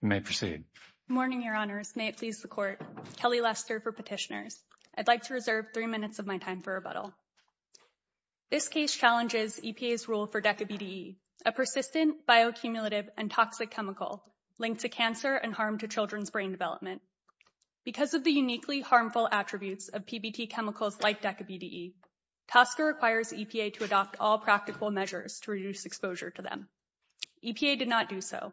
May proceed morning your honors may it please the court Kelly Lester for petitioners. I'd like to reserve three minutes of my time for rebuttal This case challenges EPA's rule for deca BDE a persistent bioaccumulative and toxic chemical linked to cancer and harm to children's brain development Because of the uniquely harmful attributes of PBT chemicals like deca BDE Tosca requires EPA to adopt all practical measures to reduce exposure to them EPA did not do so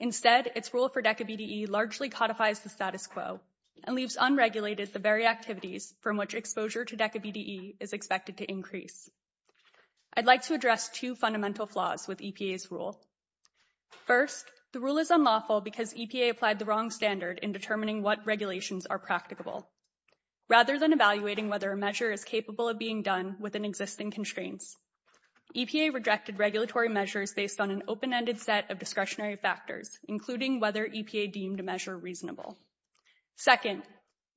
Instead its rule for deca BDE largely codifies the status quo and leaves unregulated the very activities from which exposure to deca BDE Is expected to increase I'd like to address two fundamental flaws with EPA's rule First the rule is unlawful because EPA applied the wrong standard in determining what regulations are practicable Rather than evaluating whether a measure is capable of being done within existing constraints EPA rejected regulatory measures based on an open-ended set of discretionary factors including whether EPA deemed a measure reasonable Second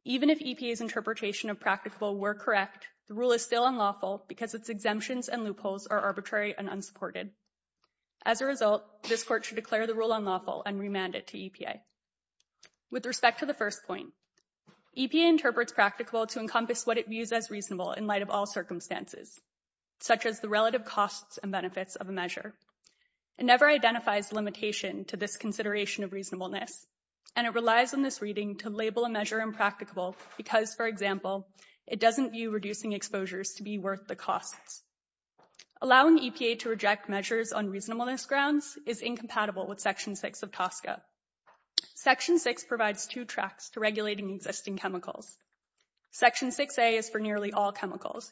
even if EPA's interpretation of practical were correct the rule is still unlawful because its exemptions and loopholes are arbitrary and unsupported as A result this court should declare the rule unlawful and remand it to EPA with respect to the first point EPA interprets practical to encompass what it views as reasonable in light of all circumstances Such as the relative costs and benefits of a measure It never identifies limitation to this consideration of reasonableness And it relies on this reading to label a measure impracticable because for example It doesn't view reducing exposures to be worth the costs Allowing EPA to reject measures on reasonableness grounds is incompatible with section 6 of Tosca Section 6 provides two tracks to regulating existing chemicals Section 6a is for nearly all chemicals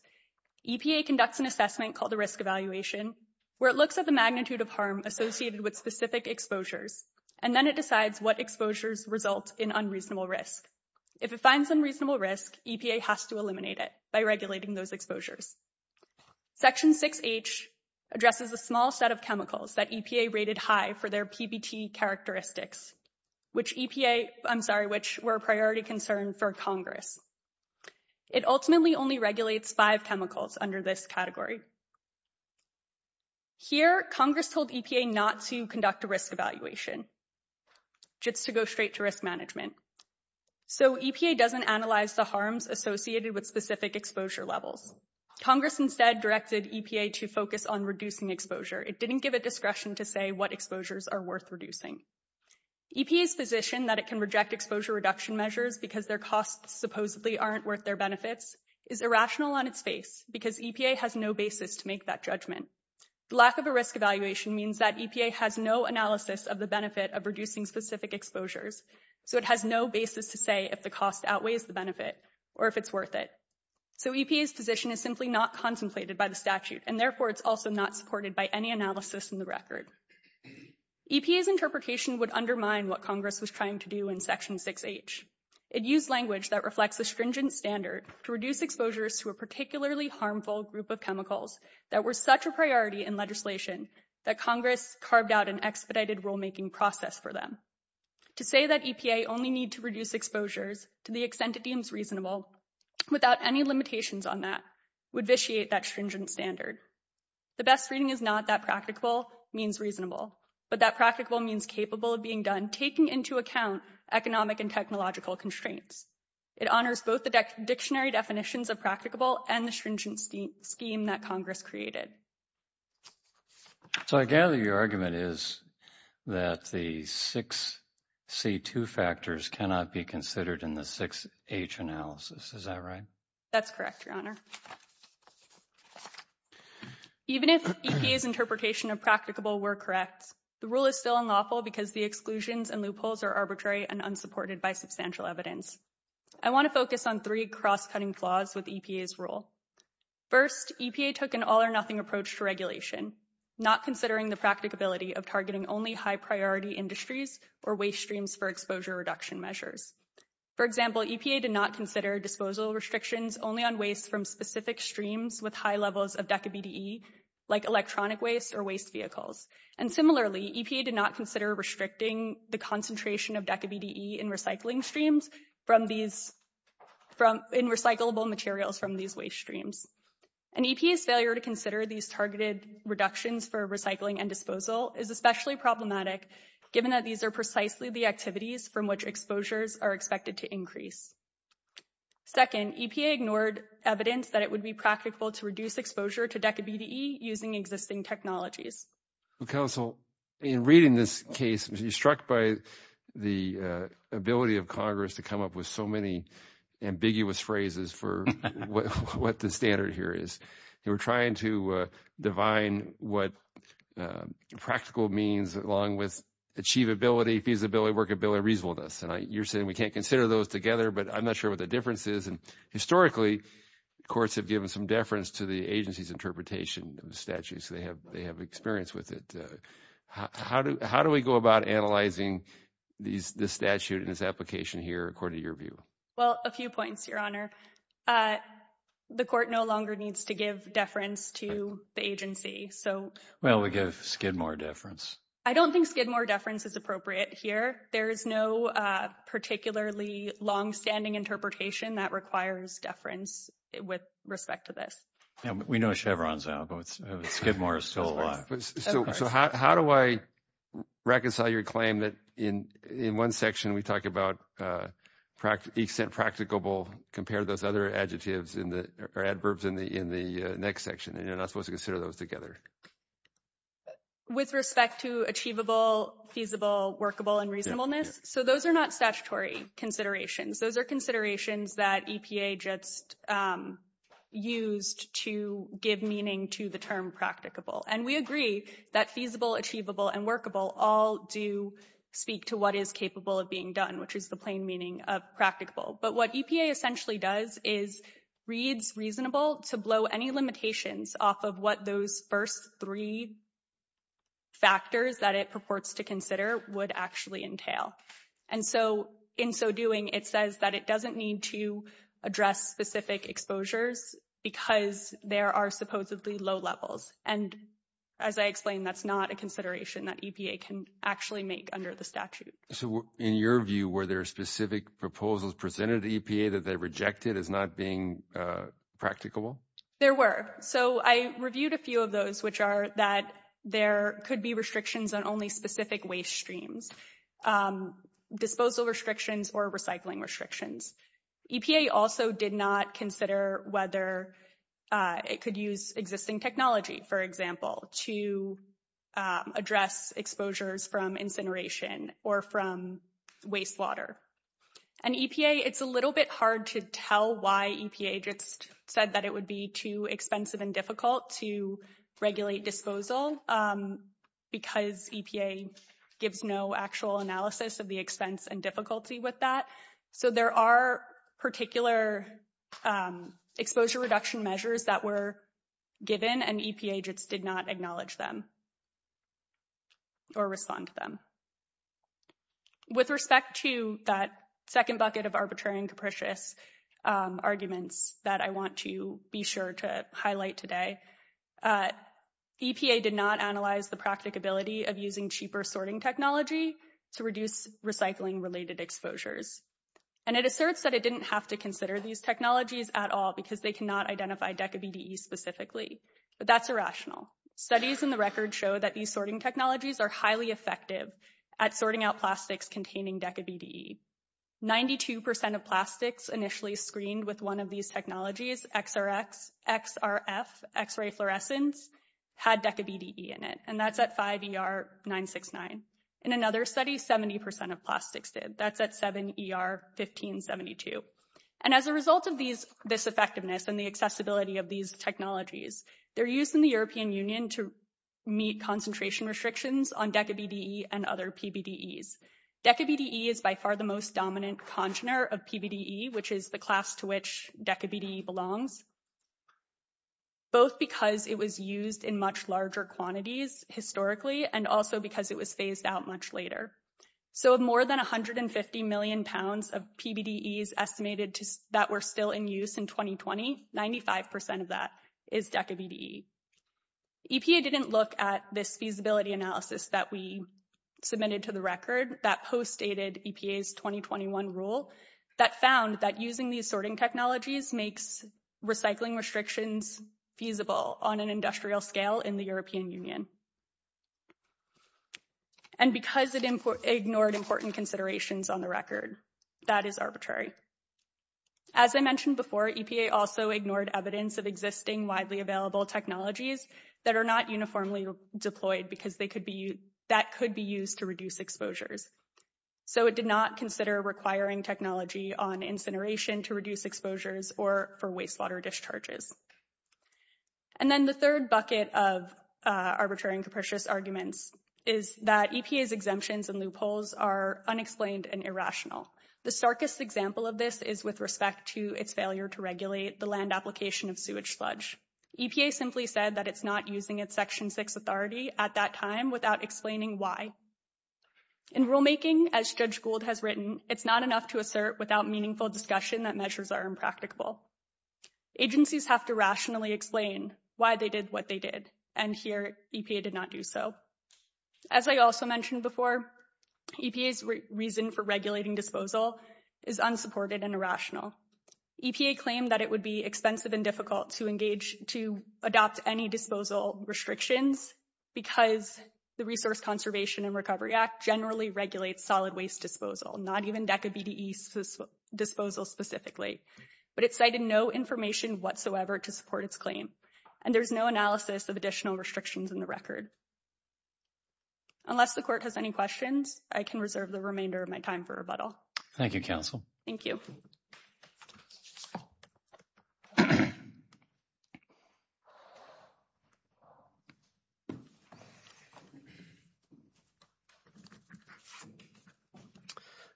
EPA conducts an assessment called the risk evaluation where it looks at the magnitude of harm associated with specific exposures And then it decides what exposures result in unreasonable risk if it finds unreasonable risk EPA has to eliminate it by regulating those exposures section 6h Addresses a small set of chemicals that EPA rated high for their PBT characteristics Which EPA, I'm sorry, which were a priority concern for Congress It ultimately only regulates five chemicals under this category Here Congress told EPA not to conduct a risk evaluation Just to go straight to risk management So EPA doesn't analyze the harms associated with specific exposure levels Congress instead directed EPA to focus on reducing exposure. It didn't give a discretion to say what exposures are worth reducing EPA's position that it can reject exposure reduction measures because their costs supposedly aren't worth their benefits is Irrational on its face because EPA has no basis to make that judgment Lack of a risk evaluation means that EPA has no analysis of the benefit of reducing specific exposures So it has no basis to say if the cost outweighs the benefit or if it's worth it So EPA's position is simply not contemplated by the statute and therefore it's also not supported by any analysis in the record EPA's interpretation would undermine what Congress was trying to do in section 6h It used language that reflects a stringent standard to reduce exposures to a particularly harmful group of chemicals That were such a priority in legislation that Congress carved out an expedited rulemaking process for them To say that EPA only need to reduce exposures to the extent it deems reasonable Without any limitations on that would vitiate that stringent standard The best reading is not that practical means reasonable But that practical means capable of being done taking into account economic and technological constraints It honors both the dictionary definitions of practicable and the stringent scheme that Congress created So I gather your argument is that the six C2 factors cannot be considered in the 6h analysis. Is that right? That's correct, Your Honor Even if EPA's interpretation of practicable were correct The rule is still unlawful because the exclusions and loopholes are arbitrary and unsupported by substantial evidence I want to focus on three cross-cutting flaws with EPA's rule First EPA took an all-or-nothing approach to regulation Not considering the practicability of targeting only high-priority industries or waste streams for exposure reduction measures For example EPA did not consider disposal restrictions only on waste from specific streams with high levels of DECA-BDE Like electronic waste or waste vehicles and similarly EPA did not consider restricting the concentration of DECA-BDE in recycling streams from these from in recyclable materials from these waste streams And EPA's failure to consider these targeted reductions for recycling and disposal is especially problematic Given that these are precisely the activities from which exposures are expected to increase Second EPA ignored evidence that it would be practical to reduce exposure to DECA-BDE using existing technologies counsel in reading this case was struck by the ability of Congress to come up with so many ambiguous phrases for What the standard here is they were trying to divine what? Practical means along with Achievability feasibility workability reasonableness, and I you're saying we can't consider those together, but I'm not sure what the difference is and historically Courts have given some deference to the agency's interpretation of the statute so they have they have experience with it How do how do we go about analyzing? These this statute in its application here according to your view well a few points your honor I The court no longer needs to give deference to the agency so well we give Skidmore deference I don't think Skidmore deference is appropriate here. There is no particularly Long-standing interpretation that requires deference with respect to this. Yeah, we know Chevron's out, but Skidmore is still alive How do I? Reconcile your claim that in in one section we talked about Practically sent practicable compare those other adjectives in the adverbs in the in the next section, and you're not supposed to consider those together With respect to achievable feasible workable and reasonableness so those are not statutory considerations those are considerations that EPA just used to give meaning to the term practicable and we agree that feasible achievable and workable all do Speak to what is capable of being done, which is the plain meaning of practicable, but what EPA essentially does is Reads reasonable to blow any limitations off of what those first three Factors that it purports to consider would actually entail and so in so doing it says that it doesn't need to address specific exposures because there are supposedly low levels and As I explained that's not a consideration that EPA can actually make under the statute So in your view were there specific proposals presented the EPA that they rejected as not being Practical there were so I reviewed a few of those which are that there could be restrictions on only specific waste streams Disposal restrictions or recycling restrictions EPA also did not consider whether It could use existing technology for example to address exposures from incineration or from wastewater and EPA it's a little bit hard to tell why EPA just said that it would be too expensive and difficult to regulate disposal Because EPA gives no actual analysis of the expense and difficulty with that so there are particular Exposure reduction measures that were given and EPA just did not acknowledge them Or respond to them With respect to that second bucket of arbitrary and capricious Arguments that I want to be sure to highlight today EPA did not analyze the practicability of using cheaper sorting technology to reduce Recycling related exposures and it asserts that it didn't have to consider these technologies at all because they cannot identify DECA BDE Specifically, but that's irrational studies in the record show that these sorting technologies are highly effective at sorting out plastics containing DECA BDE 92% of plastics initially screened with one of these technologies XRX, XRF, X-ray fluorescence Had DECA BDE in it and that's at 5 ER 969 in another study 70% of plastics did that's at 7 ER 1572 and as a result of these this effectiveness and the accessibility of these technologies They're used in the European Union to meet concentration restrictions on DECA BDE and other PBDEs DECA BDE is by far the most dominant congener of PBDE, which is the class to which DECA BDE belongs Both because it was used in much larger quantities historically and also because it was phased out much later So of more than a hundred and fifty million pounds of PBDEs estimated to that were still in use in 2020 95% of that is DECA BDE EPA didn't look at this feasibility analysis that we Submitted to the record that post dated EPA's 2021 rule that found that using these sorting technologies makes recycling restrictions feasible on an industrial scale in the European Union and And because it ignored important considerations on the record that is arbitrary As I mentioned before EPA also ignored evidence of existing widely available Technologies that are not uniformly deployed because they could be that could be used to reduce exposures So it did not consider requiring technology on incineration to reduce exposures or for wastewater discharges and then the third bucket of Arbitrary and capricious arguments is that EPA's exemptions and loopholes are Unexplained and irrational the starkest example of this is with respect to its failure to regulate the land application of sewage sludge EPA simply said that it's not using its section 6 authority at that time without explaining why In rulemaking as Judge Gould has written. It's not enough to assert without meaningful discussion that measures are impracticable Agencies have to rationally explain why they did what they did and here EPA did not do so as I also mentioned before EPA's reason for regulating disposal is Unsupported and irrational EPA claimed that it would be expensive and difficult to engage to adopt any disposal restrictions Because the Resource Conservation and Recovery Act generally regulates solid waste disposal not even DECA BDE Disposal specifically, but it cited no information whatsoever to support its claim and there's no analysis of additional restrictions in the record Unless the court has any questions, I can reserve the remainder of my time for rebuttal. Thank you counsel. Thank you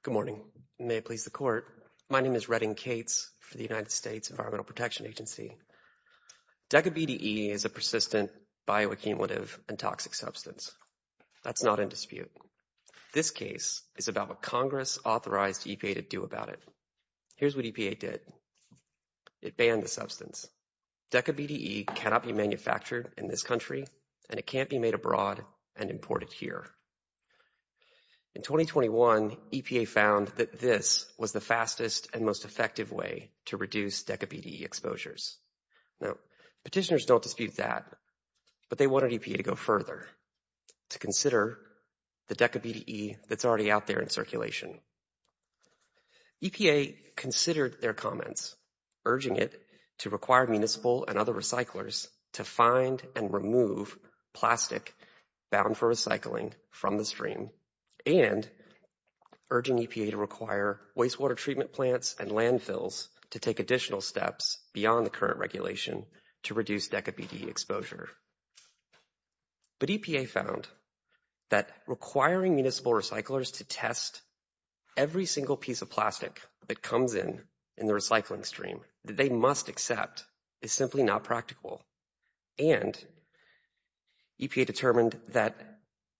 Good morning, may it please the court. My name is Redding Cates for the United States Environmental Protection Agency DECA BDE is a persistent bioaccumulative and toxic substance. That's not in dispute This case is about what Congress authorized EPA to do about it. Here's what EPA did It banned the sale of DECA BDE to the United States DECA BDE cannot be manufactured in this country and it can't be made abroad and imported here In 2021 EPA found that this was the fastest and most effective way to reduce DECA BDE exposures Now petitioners don't dispute that But they wanted EPA to go further To consider the DECA BDE that's already out there in circulation EPA considered their comments urging it to require municipal and other recyclers to find and remove plastic bound for recycling from the stream and Urging EPA to require wastewater treatment plants and landfills to take additional steps beyond the current regulation to reduce DECA BDE exposure But EPA found that requiring municipal recyclers to test Every single piece of plastic that comes in in the recycling stream that they must accept is simply not practical and EPA determined that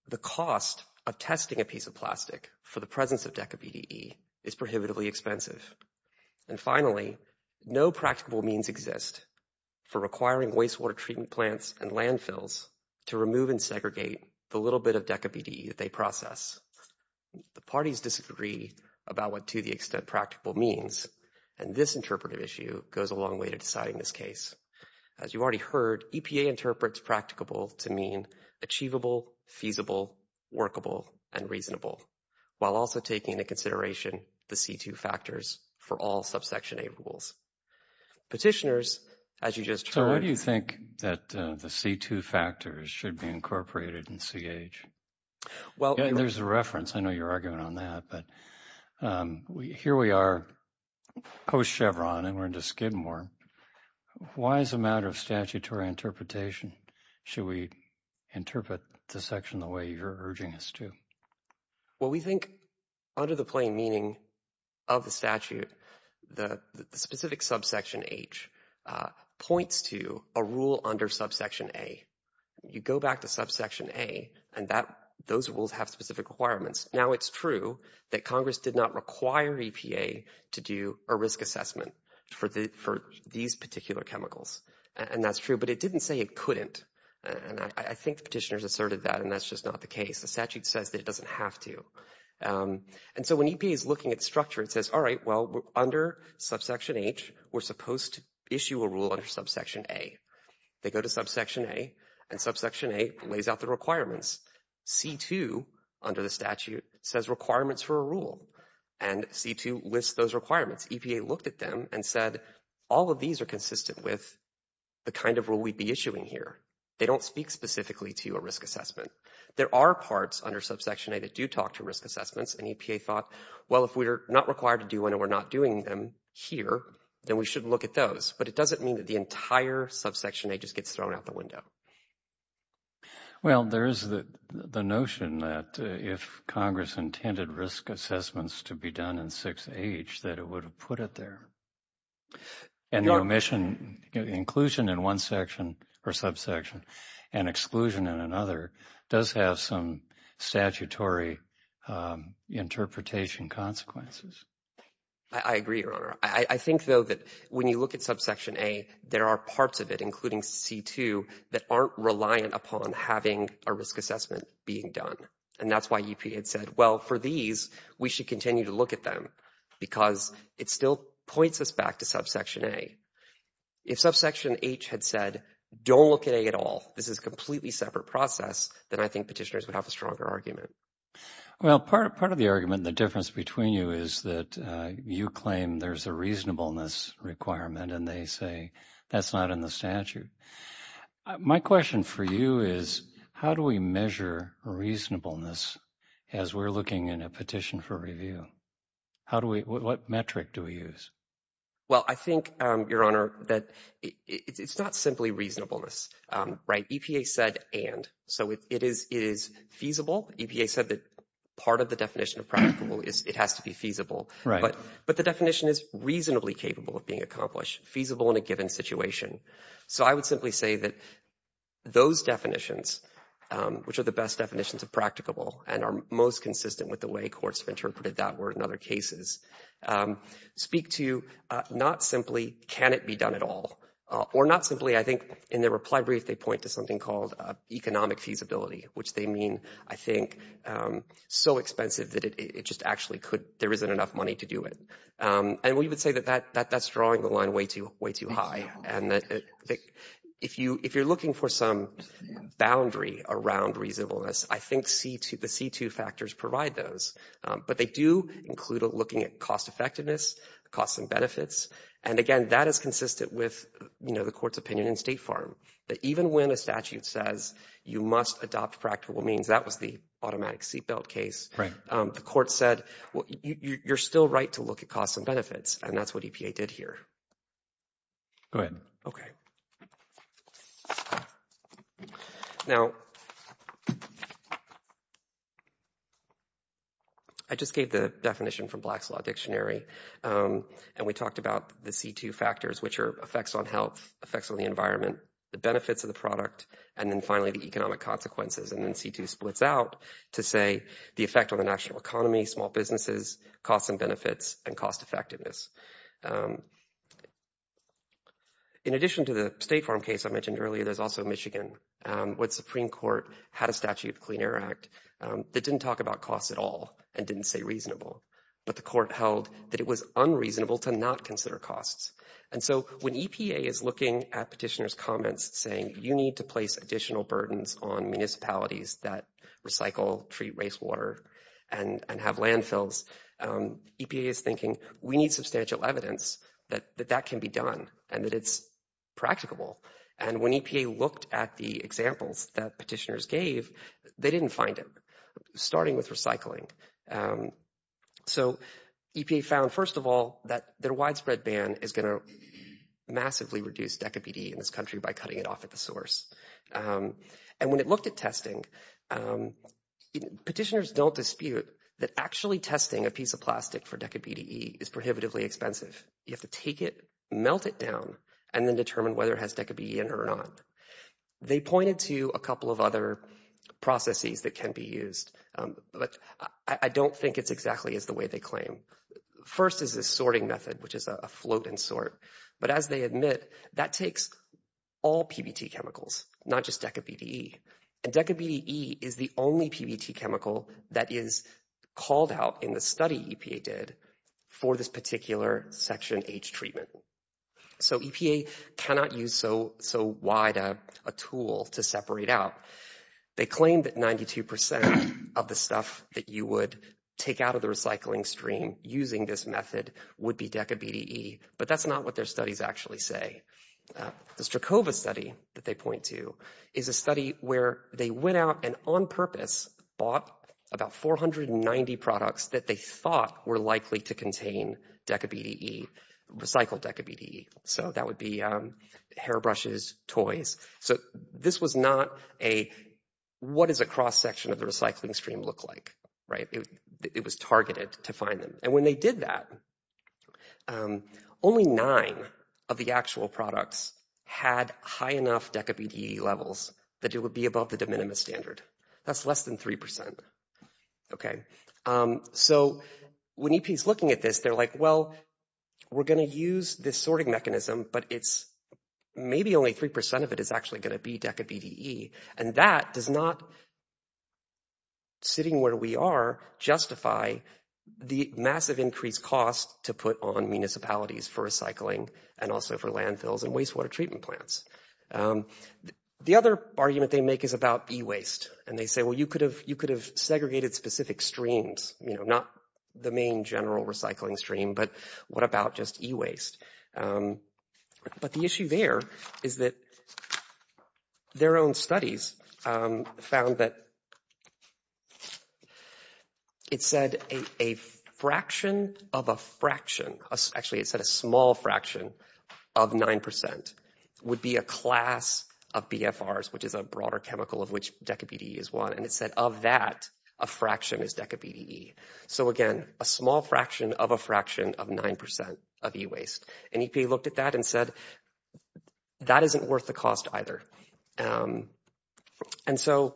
the cost of testing a piece of plastic for the presence of DECA BDE is prohibitively expensive and Finally no practical means exist For requiring wastewater treatment plants and landfills to remove and segregate the little bit of DECA BDE that they process The parties disagree about what to the extent practical means and this interpretive issue goes a long way to deciding this case As you've already heard EPA interprets practicable to mean achievable feasible Workable and reasonable while also taking into consideration the c2 factors for all subsection a rules Petitioners as you just heard you think that the c2 factors should be incorporated in CH Well, there's a reference I know you're arguing on that but We here we are Post Chevron and we're into Skidmore Why is a matter of statutory interpretation? Should we interpret the section the way you're urging us to? Well, we think under the plain meaning of the statute the specific subsection H Points to a rule under subsection a You go back to subsection a and that those rules have specific requirements now It's true that Congress did not require EPA to do a risk assessment For the for these particular chemicals and that's true But it didn't say it couldn't and I think petitioners asserted that and that's just not the case The statute says that it doesn't have to And so when EPA is looking at structure, it says, all right Well under subsection H, we're supposed to issue a rule under subsection a They go to subsection a and subsection a lays out the requirements c2 under the statute says requirements for a rule and C2 lists those requirements EPA looked at them and said all of these are consistent with The kind of rule we'd be issuing here. They don't speak specifically to a risk assessment There are parts under subsection a that do talk to risk assessments and EPA thought Well, if we're not required to do one and we're not doing them here, then we should look at those But it doesn't mean that the entire subsection a just gets thrown out the window Well, there is the the notion that if Congress intended risk assessments to be done in 6h that it would have put it there and the omission inclusion in one section or subsection and exclusion in another does have some statutory Interpretation consequences, I Agree, your honor. I think though that when you look at subsection a there are parts of it Including c2 that aren't reliant upon having a risk assessment being done and that's why EPA had said well for these We should continue to look at them because it still points us back to subsection a If subsection H had said don't look at a at all This is completely separate process that I think petitioners would have a stronger argument Well part of part of the argument the difference between you is that you claim there's a reasonableness Requirement and they say that's not in the statute My question for you is how do we measure? Reasonableness as we're looking in a petition for review. How do we what metric do we use? Well, I think your honor that it's not simply reasonableness right EPA said and so it is is Feasible EPA said that part of the definition of practical is it has to be feasible, right? But but the definition is reasonably capable of being accomplished feasible in a given situation So I would simply say that those definitions Which are the best definitions of practicable and are most consistent with the way courts have interpreted that word in other cases Speak to you not simply can it be done at all or not simply I think in their reply brief They point to something called economic feasibility, which they mean I think So expensive that it just actually could there isn't enough money to do it and we would say that that that that's drawing the line way too way too high and that if you if you're looking for some Boundary around reasonableness, I think see to the c2 factors provide those But they do include a looking at cost-effectiveness Costs and benefits and again that is consistent with you know The court's opinion in State Farm that even when a statute says you must adopt practical means that was the automatic seat belt case Right, the court said well, you're still right to look at costs and benefits and that's what EPA did here Go ahead. Okay Now I just gave the definition from Black's Law Dictionary and we talked about the c2 factors which are effects on health effects on the environment the benefits of the product and then finally the Economic consequences and then c2 splits out to say the effect on the national economy small businesses costs and benefits and cost-effectiveness In addition to the State Farm case I mentioned earlier there's also Michigan What Supreme Court had a statute Clean Air Act that didn't talk about costs at all and didn't say reasonable But the court held that it was unreasonable to not consider costs and so when EPA is looking at petitioners comments saying you need to place additional burdens on municipalities that Recycle treat wastewater and and have landfills EPA is thinking we need substantial evidence that that can be done and that it's Practicable and when EPA looked at the examples that petitioners gave they didn't find it starting with recycling so EPA found first of all that their widespread ban is going to Massively reduce deca PD in this country by cutting it off at the source And when it looked at testing Petitioners don't dispute that actually testing a piece of plastic for deca PDE is prohibitively expensive You have to take it melt it down and then determine whether it has deca be in or not They pointed to a couple of other Processes that can be used, but I don't think it's exactly as the way they claim First is this sorting method, which is a float and sort but as they admit that takes all PBT chemicals not just deca PDE and deca BDE is the only PBT chemical that is Called out in the study EPA did for this particular section H treatment So EPA cannot use so so wide a tool to separate out They claimed that 92% of the stuff that you would take out of the recycling stream using this method Would be deca BDE, but that's not what their studies actually say The Strakova study that they point to is a study where they went out and on purpose bought about 490 products that they thought were likely to contain deca BDE Recycled deca BDE. So that would be hairbrushes toys, so this was not a What is a cross-section of the recycling stream look like right? It was targeted to find them and when they did that Only nine of the actual products had high enough deca BDE levels that it would be above the de minimis standard That's less than 3% Okay so when he's looking at this, they're like well we're gonna use this sorting mechanism, but it's Maybe only 3% of it is actually going to be deca BDE and that does not Sitting where we are Justify the massive increased cost to put on municipalities for recycling and also for landfills and wastewater treatment plants The other argument they make is about e-waste and they say well you could have you could have segregated specific streams You know, not the main general recycling stream, but what about just e-waste? But the issue there is that their own studies found that It said a Fraction of a fraction actually it said a small fraction of 9% would be a class of BFRs Which is a broader chemical of which deca BDE is one and it said of that a fraction is deca BDE So again a small fraction of a fraction of 9% of e-waste and EPA looked at that and said That isn't worth the cost either and so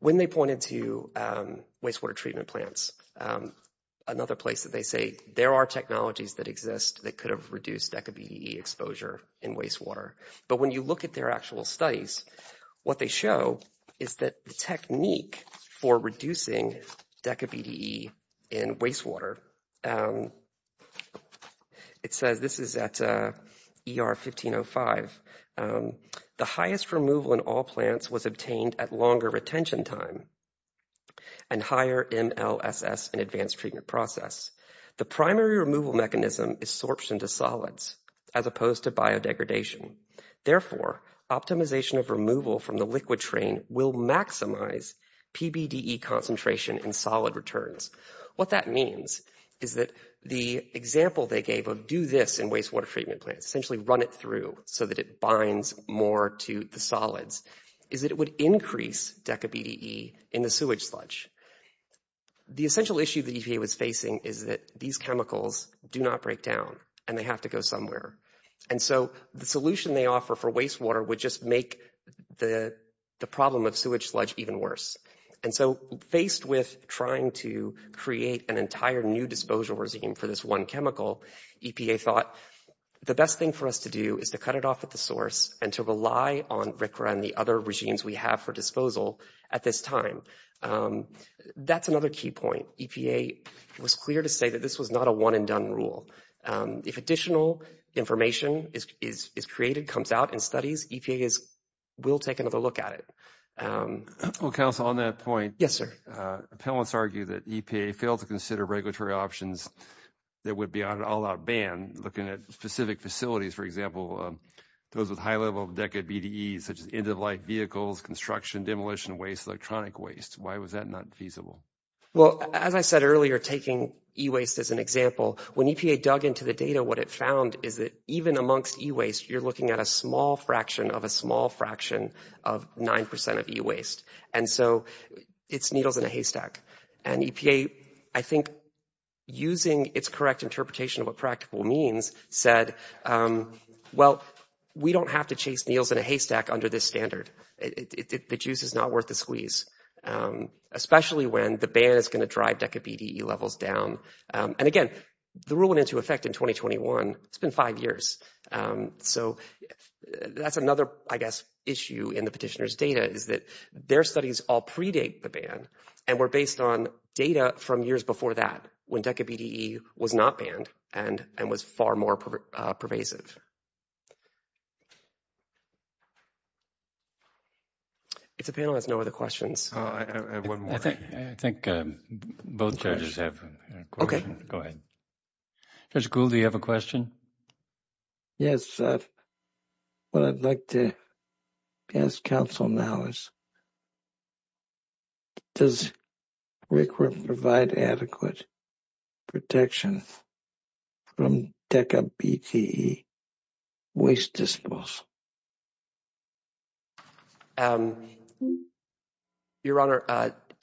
When They pointed to wastewater treatment plants Another place that they say there are technologies that exist that could have reduced deca BDE exposure in wastewater But when you look at their actual studies What they show is that the technique for reducing deca BDE in wastewater It says this is at ER 1505 The highest removal in all plants was obtained at longer retention time and higher MLSS and advanced treatment process The primary removal mechanism is sorption to solids as opposed to biodegradation therefore optimization of removal from the liquid train will maximize PBDE concentration and solid returns what that means is that the Example they gave of do this in wastewater treatment plants essentially run it through so that it binds more to the solids is that it Would increase deca BDE in the sewage sludge The essential issue that EPA was facing is that these chemicals do not break down and they have to go somewhere and so the solution they offer for wastewater would just make the The problem of sewage sludge even worse and so faced with trying to Create an entire new disposal regime for this one chemical EPA thought The best thing for us to do is to cut it off at the source and to rely on RCRA and the other regimes we have for disposal at this time That's another key point EPA was clear to say that this was not a one-and-done rule If additional information is created comes out in studies We'll take another look at it Well counsel on that point. Yes, sir Appellants argue that EPA failed to consider regulatory options That would be on an all-out ban looking at specific facilities. For example Those with high level of decade BDE such as end-of-life vehicles construction demolition waste electronic waste. Why was that not feasible? Well, as I said earlier taking e-waste as an example when EPA dug into the data what it found is that even amongst e-waste you're looking at a small fraction of a small fraction of 9% of e-waste and so it's needles in a haystack and EPA I think Using its correct interpretation of what practical means said Well, we don't have to chase needles in a haystack under this standard. It produces not worth the squeeze Especially when the ban is going to drive decade BDE levels down and again the rule went into effect in 2021. It's been five years so That's another I guess issue in the petitioners data Is that their studies all predate the ban and we're based on data from years before that When decade BDE was not banned and and was far more pervasive It's It's a panel has no other questions Okay, I think both judges have Okay, go ahead There's cool. Do you have a question? Yes What I'd like to ask counsel now is Does Rick would provide adequate protections from decade BTE Waste disposal Your honor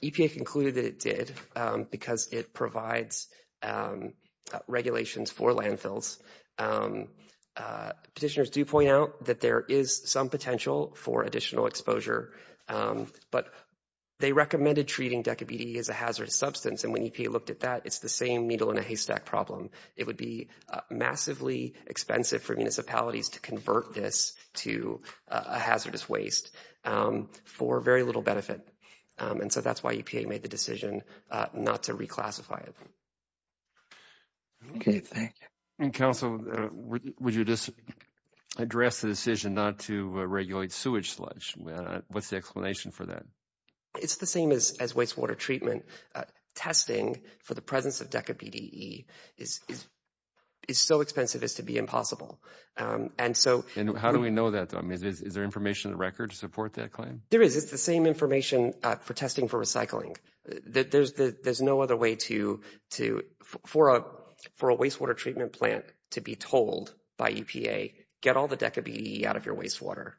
EPA concluded that it did because it provides Regulations for landfills Petitioners do point out that there is some potential for additional exposure But they recommended treating decade BTE as a hazardous substance and when EPA looked at that, it's the same needle in a haystack problem It would be massively expensive for municipalities to convert this to a hazardous waste For very little benefit. And so that's why EPA made the decision not to reclassify it Okay, thank you and counsel would you just Address the decision not to regulate sewage sludge. What's the explanation for that? It's the same as wastewater treatment Testing for the presence of decade BTE is It's so expensive as to be impossible And so and how do we know that? I mean, is there information the record to support that claim? There is it's the same information for testing for recycling that there's the there's no other way to To for a for a wastewater treatment plant to be told by EPA get all the decade BTE out of your wastewater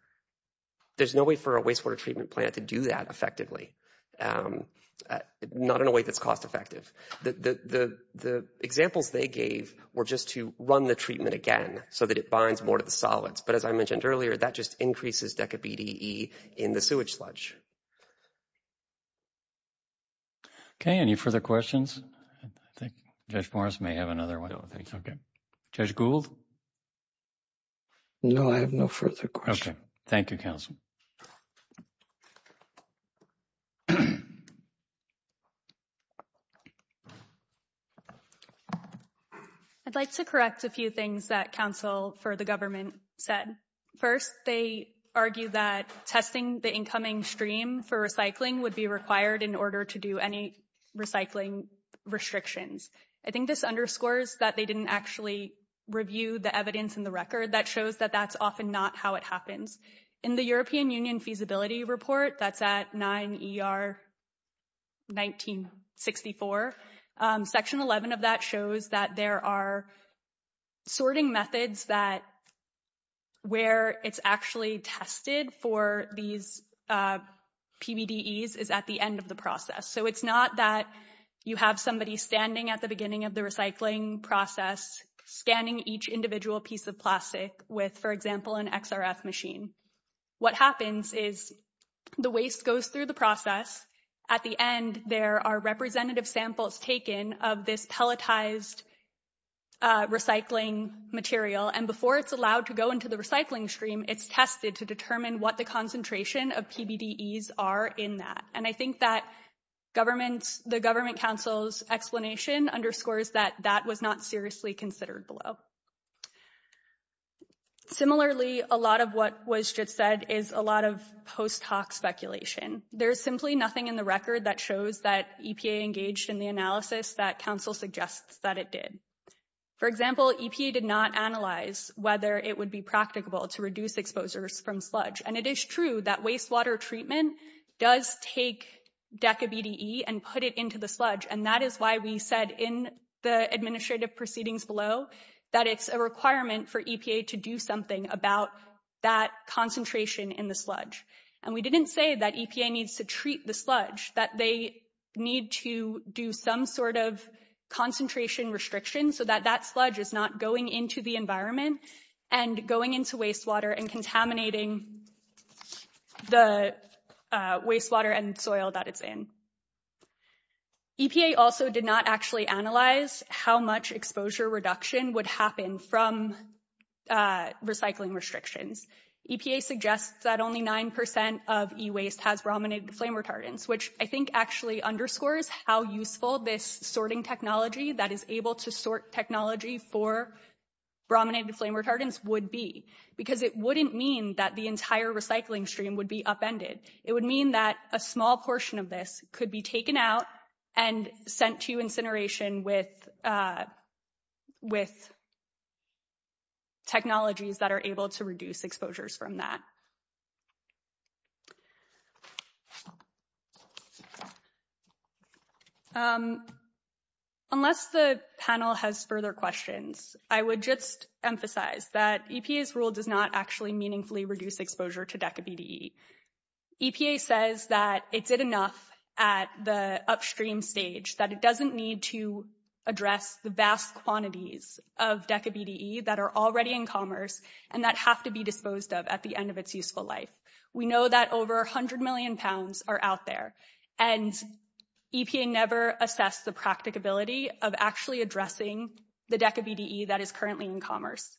There's no way for a wastewater treatment plant to do that effectively Not in a way that's cost-effective the Examples they gave were just to run the treatment again so that it binds more to the solids But as I mentioned earlier that just increases decade BTE in the sewage sludge Okay, any further questions I think judge Morris may have another one, okay judge Gould No, I have no further question, thank you counsel I'd Like to correct a few things that counsel for the government said first they Argue that testing the incoming stream for recycling would be required in order to do any recycling Restrictions, I think this underscores that they didn't actually Review the evidence in the record that shows that that's often not how it happens in the European Union feasibility report That's at 9 ER 1964 section 11 of that shows that there are sorting methods that Where it's actually tested for these PBD ease is at the end of the process So it's not that you have somebody standing at the beginning of the recycling process Scanning each individual piece of plastic with for example an XRF machine what happens is The waste goes through the process at the end. There are representative samples taken of this pelletized Recycling material and before it's allowed to go into the recycling stream it's tested to determine what the concentration of PBD ease are in that and I think that Government's the government council's explanation underscores that that was not seriously considered below Similarly a lot of what was just said is a lot of post hoc speculation There's simply nothing in the record that shows that EPA engaged in the analysis that council suggests that it did For example EPA did not analyze whether it would be practicable to reduce exposures from sludge And it is true that wastewater treatment does take Deca BDE and put it into the sludge and that is why we said in the administrative proceedings below that it's a requirement for EPA to do something about that concentration in the sludge and we didn't say that EPA needs to treat the sludge that they need to do some sort of Concentration restriction so that that sludge is not going into the environment and going into wastewater and contaminating the wastewater and soil that it's in EPA also did not actually analyze how much exposure reduction would happen from Recycling restrictions EPA suggests that only 9% of e-waste has brominated flame retardants which I think actually underscores how useful this sorting technology that is able to sort technology for Brominated flame retardants would be because it wouldn't mean that the entire recycling stream would be upended It would mean that a small portion of this could be taken out and sent to incineration with With Technologies that are able to reduce exposures from that Unless the panel has further questions I would just emphasize that EPA's rule does not actually meaningfully reduce exposure to Deca BDE EPA says that it's it enough at the upstream stage that it doesn't need to address the vast quantities of Deca BDE that are already in commerce and that have to be disposed of at the end of its useful life we know that over a hundred million pounds are out there and EPA never assessed the practicability of actually addressing the Deca BDE that is currently in commerce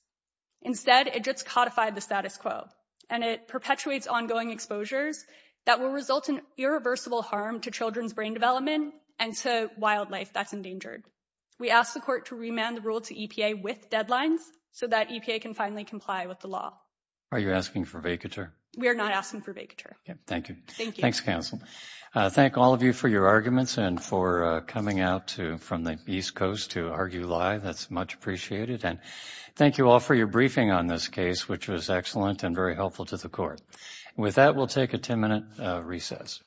Instead it just codified the status quo and it perpetuates ongoing exposures that will result in Irreversible harm to children's brain development and to wildlife that's endangered We asked the court to remand the rule to EPA with deadlines so that EPA can finally comply with the law Are you asking for vacature? We are not asking for vacature. Thank you. Thank you. Thanks counsel Thank all of you for your arguments and for coming out to from the East Coast to argue live That's much appreciated and thank you all for your briefing on this case, which was excellent and very helpful to the court with that We'll take a 10-minute recess